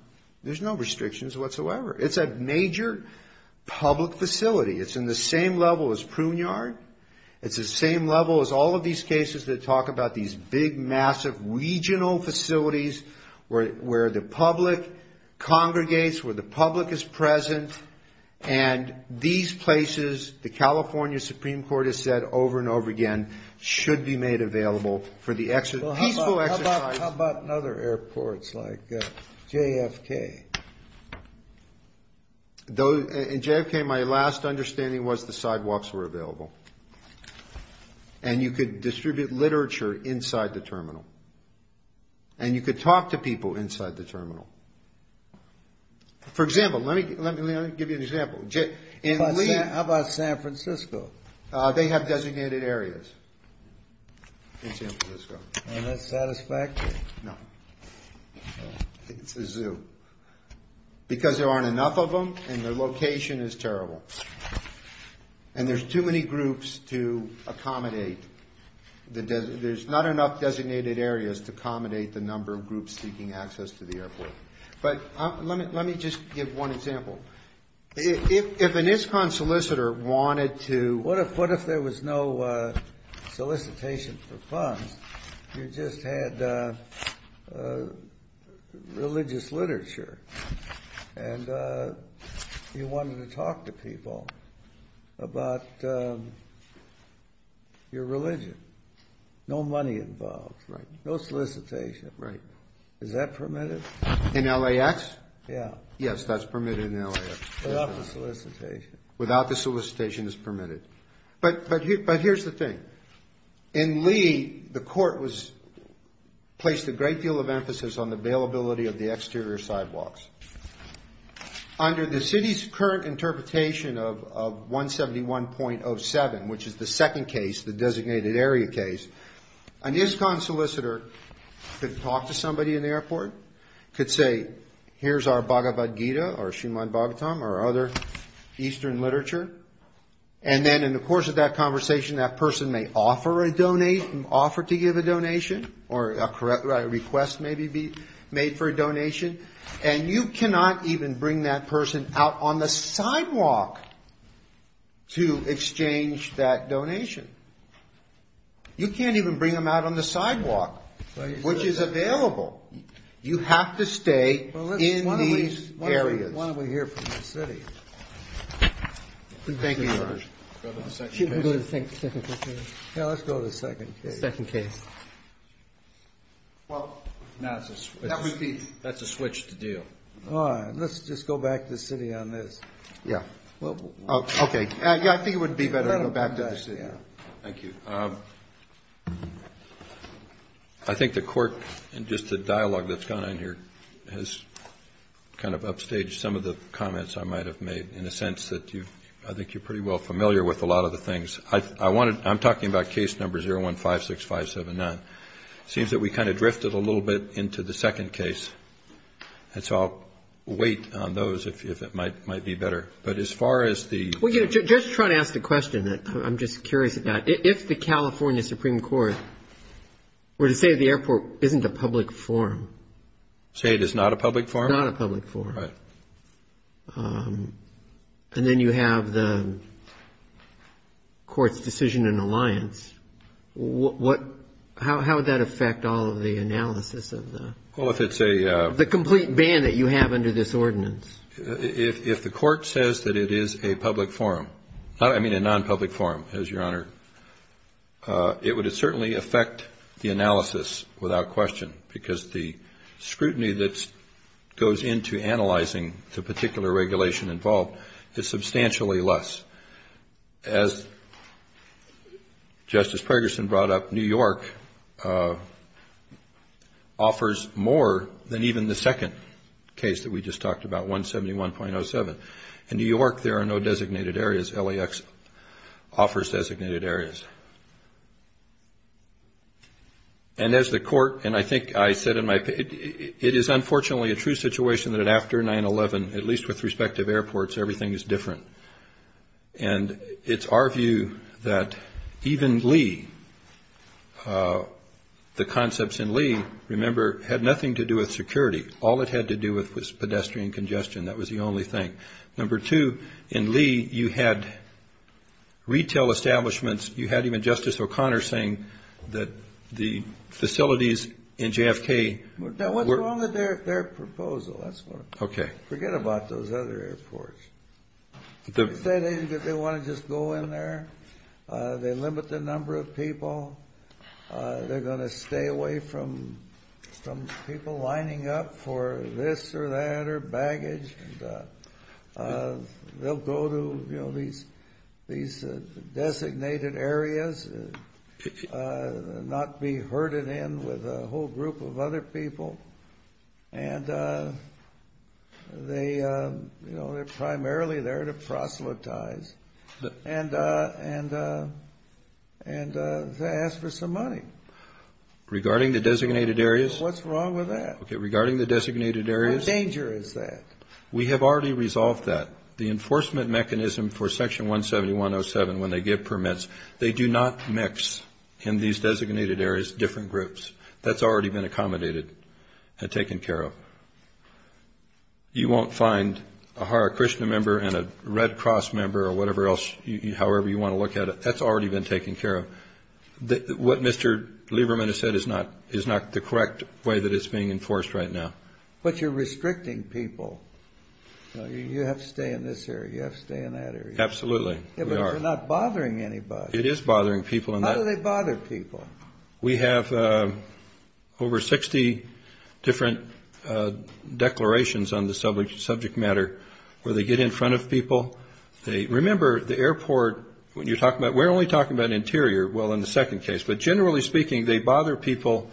There's no restrictions whatsoever. It's a major public facility. It's in the same level as Pruneyard. It's the same level as all of these cases that talk about these big, massive regional facilities where the public congregates, where the public is present. And these places, the California Supreme Court has said over and over again, should be made available for the peaceful exercise. How about in other airports like JFK? In JFK, my last understanding was the sidewalks were available. And you could distribute literature inside the terminal. For example, let me give you an example. How about San Francisco? They have designated areas in San Francisco. And that's satisfactory? No. It's a zoo. Because there aren't enough of them and their location is terrible. And there's too many groups to accommodate. There's not enough designated areas to accommodate the number of groups seeking access to the airport. But let me just give one example. If an ISCON solicitor wanted to… What if there was no solicitation for funds? You just had religious literature. And you wanted to talk to people about your religion. No money involved. Right. No solicitation. Right. Is that permitted? In LAX? Yeah. Yes, that's permitted in LAX. Without the solicitation. Without the solicitation, it's permitted. But here's the thing. In Lee, the court placed a great deal of emphasis on the availability of the exterior sidewalks. Under the city's current interpretation of 171.07, which is the second case, the designated area case, an ISCON solicitor could talk to somebody in the airport, could say, here's our Bhagavad Gita or Srimad Bhagavatam or other eastern literature. And then in the course of that conversation, that person may offer to give a donation or a request may be made for a donation. And you cannot even bring that person out on the sidewalk to exchange that donation. You can't even bring them out on the sidewalk, which is available. You have to stay in these areas. Why don't we hear from the city? Thank you, Your Honor. Should we go to the second case? Yeah, let's go to the second case. The second case. Well, that's a switch. That would be. That's a switch to deal. All right. Let's just go back to the city on this. Yeah. Okay. I think it would be better to go back to the city. Thank you. I think the Court, in just the dialogue that's gone on here, has kind of upstaged some of the comments I might have made, in the sense that I think you're pretty well familiar with a lot of the things. I'm talking about case number 0156579. It seems that we kind of drifted a little bit into the second case. And so I'll wait on those, if it might be better. But as far as the... Well, you know, just trying to ask the question. I'm just curious about it. If the California Supreme Court were to say the airport isn't a public forum. Say it is not a public forum? It's not a public forum. Right. And then you have the Court's decision in alliance. How would that affect all of the analysis of the... Well, if it's a... The complete ban that you have under this ordinance. If the Court says that it is a public forum. I mean a non-public forum, as Your Honor. It would certainly affect the analysis without question, because the scrutiny that goes into analyzing the particular regulation involved is substantially less. As Justice Pergerson brought up, New York offers more than even the second case that we just talked about, 171.07. In New York, there are no designated areas. LAX offers designated areas. And as the Court, and I think I said in my... It is unfortunately a true situation that after 9-11, at least with respect to airports, everything is different. And it's our view that even Lee, the concepts in Lee, remember, had nothing to do with security. All it had to do with was pedestrian congestion. That was the only thing. Number two, in Lee, you had retail establishments. You had even Justice O'Connor saying that the facilities in JFK were... Now, what's wrong with their proposal? That's what I'm... Okay. Forget about those other airports. They say they want to just go in there. They limit the number of people. They're going to stay away from people lining up for this or that or baggage. And they'll go to these designated areas and not be herded in with a whole group of other people. And they're primarily there to proselytize. And to ask for some money. Regarding the designated areas... What's wrong with that? Okay. Regarding the designated areas... How dangerous is that? We have already resolved that. The enforcement mechanism for Section 17107, when they give permits, they do not mix in these designated areas different groups. That's already been accommodated and taken care of. You won't find a Hare Krishna member and a Red Cross member or whatever else, however you want to look at it. That's already been taken care of. What Mr. Lieberman has said is not the correct way that it's being enforced right now. But you're restricting people. You have to stay in this area. You have to stay in that area. Absolutely. But you're not bothering anybody. It is bothering people. How do they bother people? We have over 60 different declarations on the subject matter where they get in front of people. Remember, the airport, when you're talking about... We're only talking about interior, well, in the second case. But generally speaking, they bother people.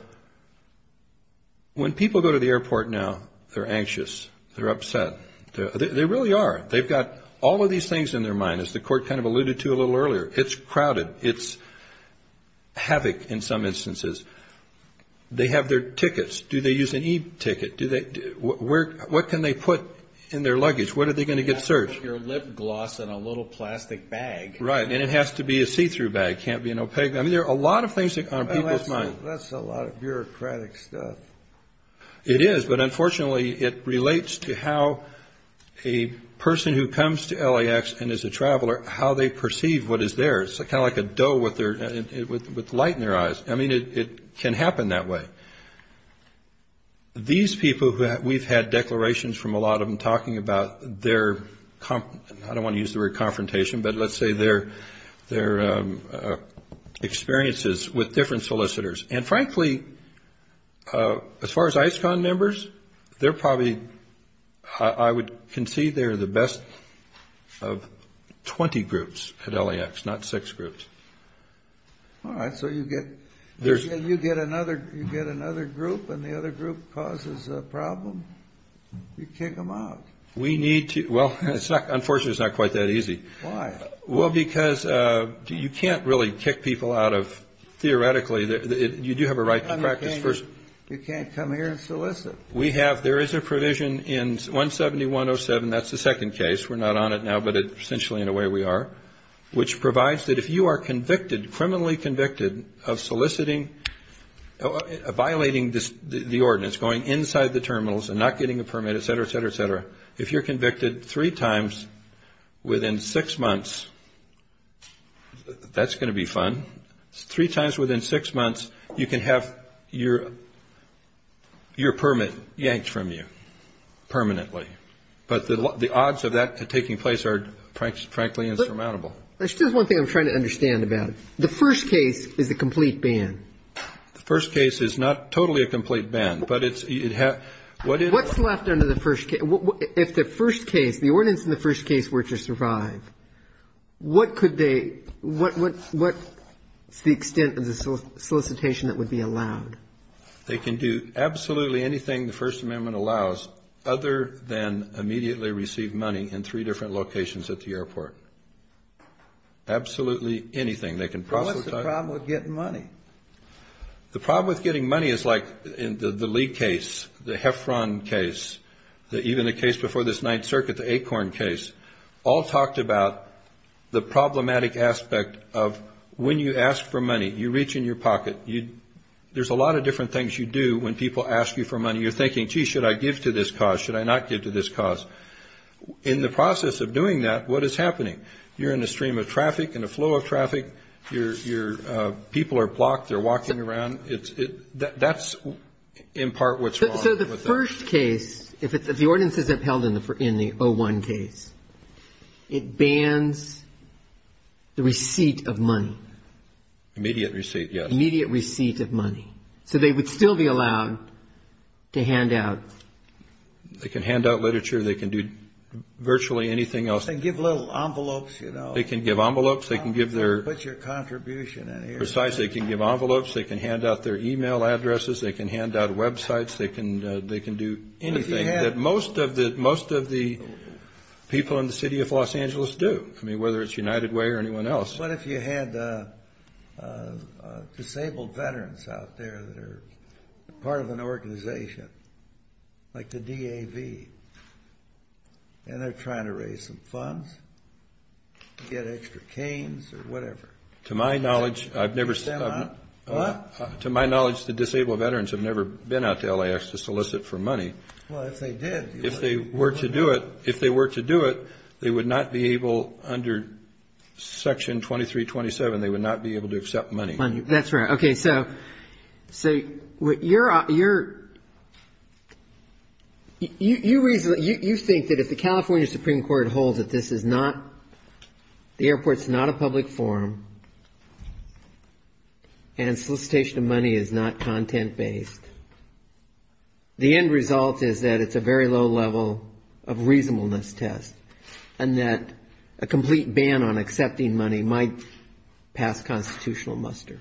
When people go to the airport now, they're anxious. They're upset. They really are. They've got all of these things in their mind, as the Court kind of alluded to a little earlier. It's crowded. It's havoc in some instances. They have their tickets. Do they use an e-ticket? What can they put in their luggage? What are they going to get searched? You have to put your lip gloss in a little plastic bag. Right, and it has to be a see-through bag. It can't be an opaque. I mean, there are a lot of things on people's minds. That's a lot of bureaucratic stuff. It is, but unfortunately, it relates to how a person who comes to LAX and is a traveler, how they perceive what is there. It's kind of like a doe with light in their eyes. I mean, it can happen that way. These people, we've had declarations from a lot of them talking about their, I don't want to use the word confrontation, but let's say their experiences with different solicitors. And frankly, as far as ISCON members, they're probably, I would concede they're the best of 20 groups at LAX, not six groups. All right, so you get another group and the other group causes a problem? You kick them out. We need to. Well, unfortunately, it's not quite that easy. Why? Well, because you can't really kick people out of, theoretically, you do have a right to practice first. You can't come here and solicit. We have, there is a provision in 171.07, that's the second case. We're not on it now, but essentially in a way we are, which provides that if you are convicted, criminally convicted of soliciting, violating the ordinance, going inside the terminals and not getting a permit, et cetera, et cetera, et cetera, if you're convicted three times within six months, that's going to be fun. Three times within six months, you can have your permit yanked from you permanently. But the odds of that taking place are frankly insurmountable. There's just one thing I'm trying to understand about it. The first case is a complete ban. The first case is not totally a complete ban. What's left under the first case? If the first case, the ordinance in the first case were to survive, what could they, what is the extent of the solicitation that would be allowed? They can do absolutely anything the First Amendment allows other than immediately receive money in three different locations at the airport. Absolutely anything. What's the problem with getting money? The problem with getting money is like in the Lee case, the Heffron case, even the case before this Ninth Circuit, the Acorn case, all talked about the problematic aspect of when you ask for money, you reach in your pocket. There's a lot of different things you do when people ask you for money. You're thinking, gee, should I give to this cause? Should I not give to this cause? In the process of doing that, what is happening? You're in a stream of traffic, in a flow of traffic. People are blocked. They're walking around. That's in part what's wrong. So the first case, if the ordinance isn't held in the 01 case, it bans the receipt of money. Immediate receipt, yes. Immediate receipt of money. So they would still be allowed to hand out. They can hand out literature. They can do virtually anything else. They can give little envelopes, you know. They can give envelopes. They can give their. Put your contribution in here. Precisely. They can give envelopes. They can hand out their e-mail addresses. They can hand out websites. They can do anything that most of the people in the city of Los Angeles do, whether it's United Way or anyone else. What if you had disabled veterans out there that are part of an organization like the DAV, and they're trying to raise some funds to get extra canes or whatever? To my knowledge, I've never. What? To my knowledge, the disabled veterans have never been out to LAX to solicit for money. Well, if they did. If they were to do it, if they were to do it, they would not be able under Section 2327, they would not be able to accept money. That's right. Okay, so you think that if the California Supreme Court holds that this is not, the airport's not a public forum and solicitation of money is not content-based, the end result is that it's a very low level of reasonableness test and that a complete ban on accepting money might pass constitutional muster?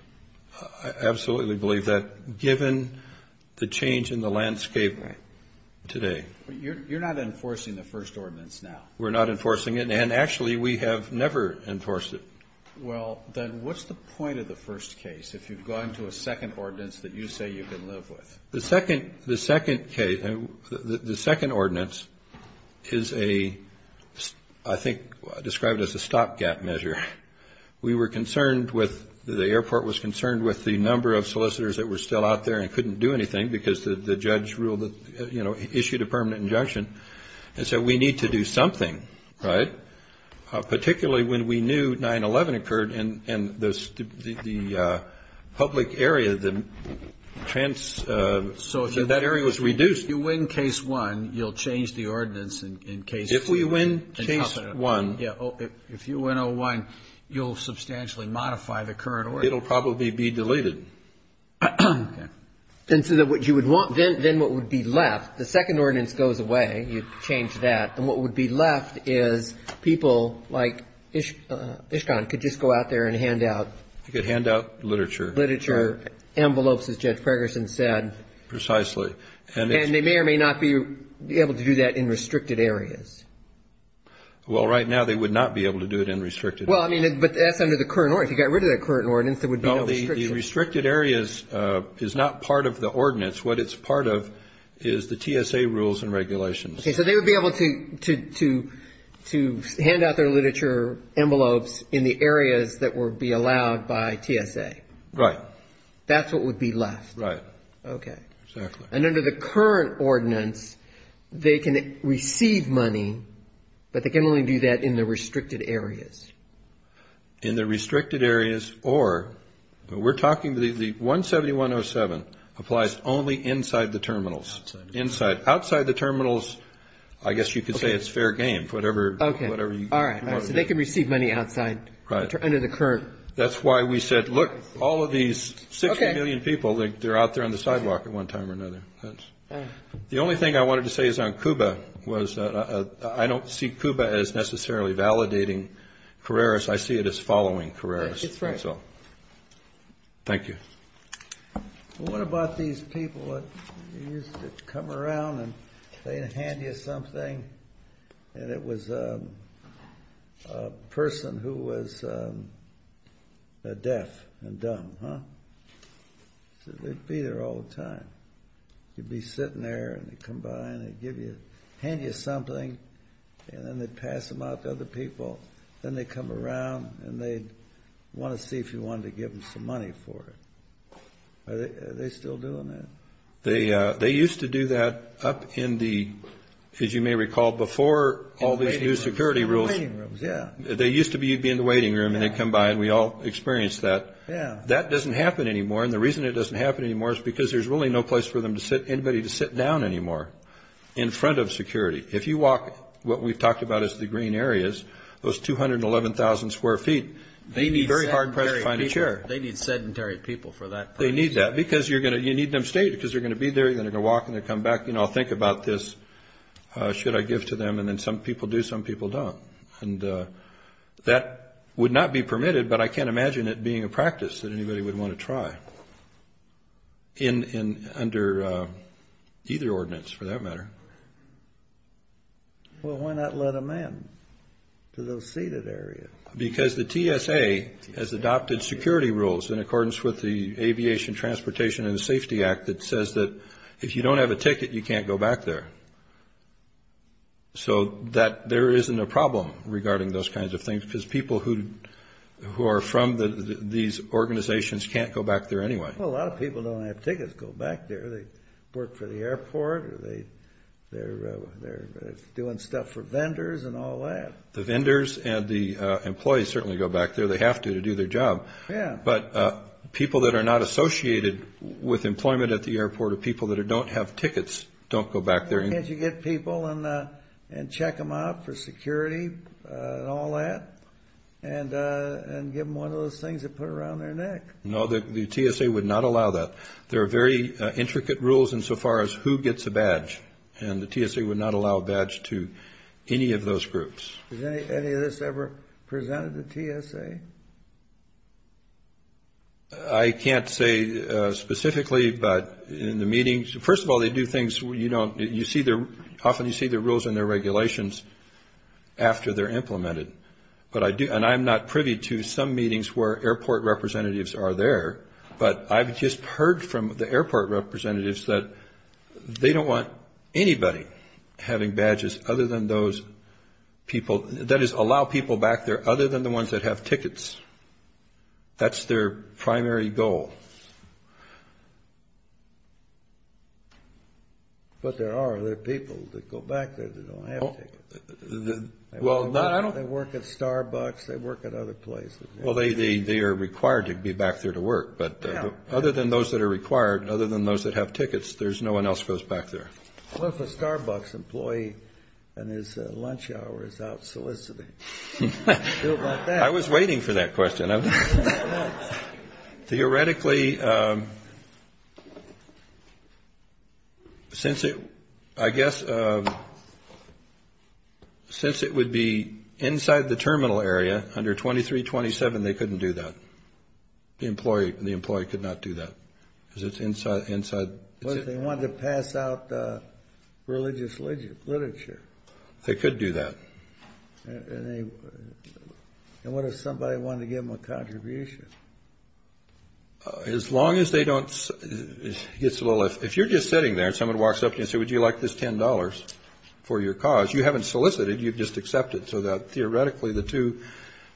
I absolutely believe that, given the change in the landscape today. You're not enforcing the first ordinance now. We're not enforcing it, and actually we have never enforced it. Well, then what's the point of the first case if you've gone to a second ordinance that you say you can live with? The second case, the second ordinance is a, I think, described as a stopgap measure. We were concerned with, the airport was concerned with the number of solicitors that were still out there and couldn't do anything because the judge issued a permanent injunction and said we need to do something, right, particularly when we knew 9-11 occurred and the public area, the, so that area was reduced. If you win case one, you'll change the ordinance in case two. If we win case one. Yeah, if you win O-1, you'll substantially modify the current ordinance. It will probably be deleted. Okay. And so what you would want, then what would be left, the second ordinance goes away, then what would be left is people like Ishkan could just go out there and hand out. They could hand out literature. Literature, envelopes, as Judge Ferguson said. Precisely. And they may or may not be able to do that in restricted areas. Well, right now they would not be able to do it in restricted areas. Well, I mean, but that's under the current ordinance. If you got rid of that current ordinance, there would be no restrictions. No, the restricted areas is not part of the ordinance. What it's part of is the TSA rules and regulations. Okay, so they would be able to hand out their literature, envelopes, in the areas that would be allowed by TSA. Right. That's what would be left. Right. Okay. Exactly. And under the current ordinance, they can receive money, but they can only do that in the restricted areas. In the restricted areas, or we're talking the 17107 applies only inside the terminals. Inside. Outside the terminals, I guess you could say it's fair game. Okay. Whatever you want to do. All right. So they can receive money outside. Right. Under the current. That's why we said, look, all of these 60 million people, they're out there on the sidewalk at one time or another. The only thing I wanted to say is on CUBA was I don't see CUBA as necessarily validating Carreras. I see it as following Carreras. Right. That's right. Thank you. What about these people that used to come around and they'd hand you something, and it was a person who was deaf and dumb, huh? They'd be there all the time. You'd be sitting there, and they'd come by, and they'd hand you something, and then they'd pass them out to other people. Then they'd come around, and they'd want to see if you wanted to give them some money for it. Are they still doing that? They used to do that up in the, as you may recall, before all these new security rules. In the waiting rooms, yeah. They used to be in the waiting room, and they'd come by, and we all experienced that. Yeah. That doesn't happen anymore, and the reason it doesn't happen anymore is because there's really no place for anybody to sit down anymore in front of security. If you walk what we've talked about as the green areas, those 211,000 square feet, they need very hard press to find a chair. They need sedentary people for that purpose. They need that because you need them to stay because they're going to be there, and they're going to walk, and they're going to come back. You know, I'll think about this. Should I give to them? And then some people do, some people don't. And that would not be permitted, but I can't imagine it being a practice that Well, why not let them in to those seated areas? Because the TSA has adopted security rules in accordance with the Aviation Transportation and Safety Act that says that if you don't have a ticket, you can't go back there, so that there isn't a problem regarding those kinds of things because people who are from these organizations can't go back there anyway. Well, a lot of people don't have tickets to go back there. They work for the airport, or they're doing stuff for vendors and all that. The vendors and the employees certainly go back there. They have to to do their job. Yeah. But people that are not associated with employment at the airport or people that don't have tickets don't go back there. Can't you get people and check them out for security and all that and give them one of those things they put around their neck? No, the TSA would not allow that. There are very intricate rules insofar as who gets a badge, and the TSA would not allow a badge to any of those groups. Has any of this ever presented to TSA? I can't say specifically, but in the meetings, first of all, they do things you don't – often you see the rules in their regulations after they're implemented, and I'm not privy to some meetings where airport representatives are there, but I've just heard from the airport representatives that they don't want anybody having badges other than those people – that is, allow people back there other than the ones that have tickets. That's their primary goal. But there are other people that go back there that don't have tickets. They work at Starbucks. They work at other places. Well, they are required to be back there to work, but other than those that are required, other than those that have tickets, there's no one else goes back there. What if a Starbucks employee and his lunch hour is out soliciting? I was waiting for that question. Theoretically, since it would be inside the terminal area under 2327, they couldn't do that. The employee could not do that because it's inside. What if they wanted to pass out religious literature? They could do that. And what if somebody wanted to give them a contribution? As long as they don't – if you're just sitting there and someone walks up to you and says, would you like this $10 for your cause, you haven't solicited. You've just accepted. So, theoretically, the two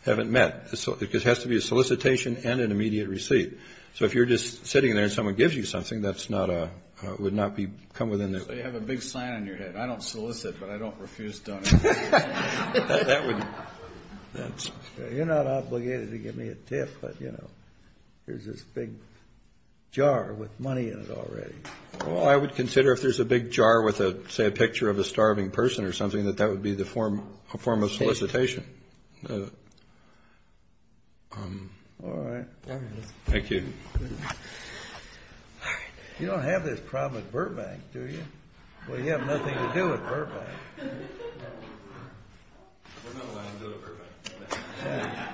haven't met. It has to be a solicitation and an immediate receipt. So if you're just sitting there and someone gives you something, that would not come within their – So you have a big sign on your head, I don't solicit, but I don't refuse donations. That would – You're not obligated to give me a tip, but, you know, here's this big jar with money in it already. Well, I would consider if there's a big jar with, say, a picture of a starving person or something, that that would be a form of solicitation. All right. Thank you. You don't have this problem at Burbank, do you? Well, you have nothing to do at Burbank. We're not allowed to go to Burbank.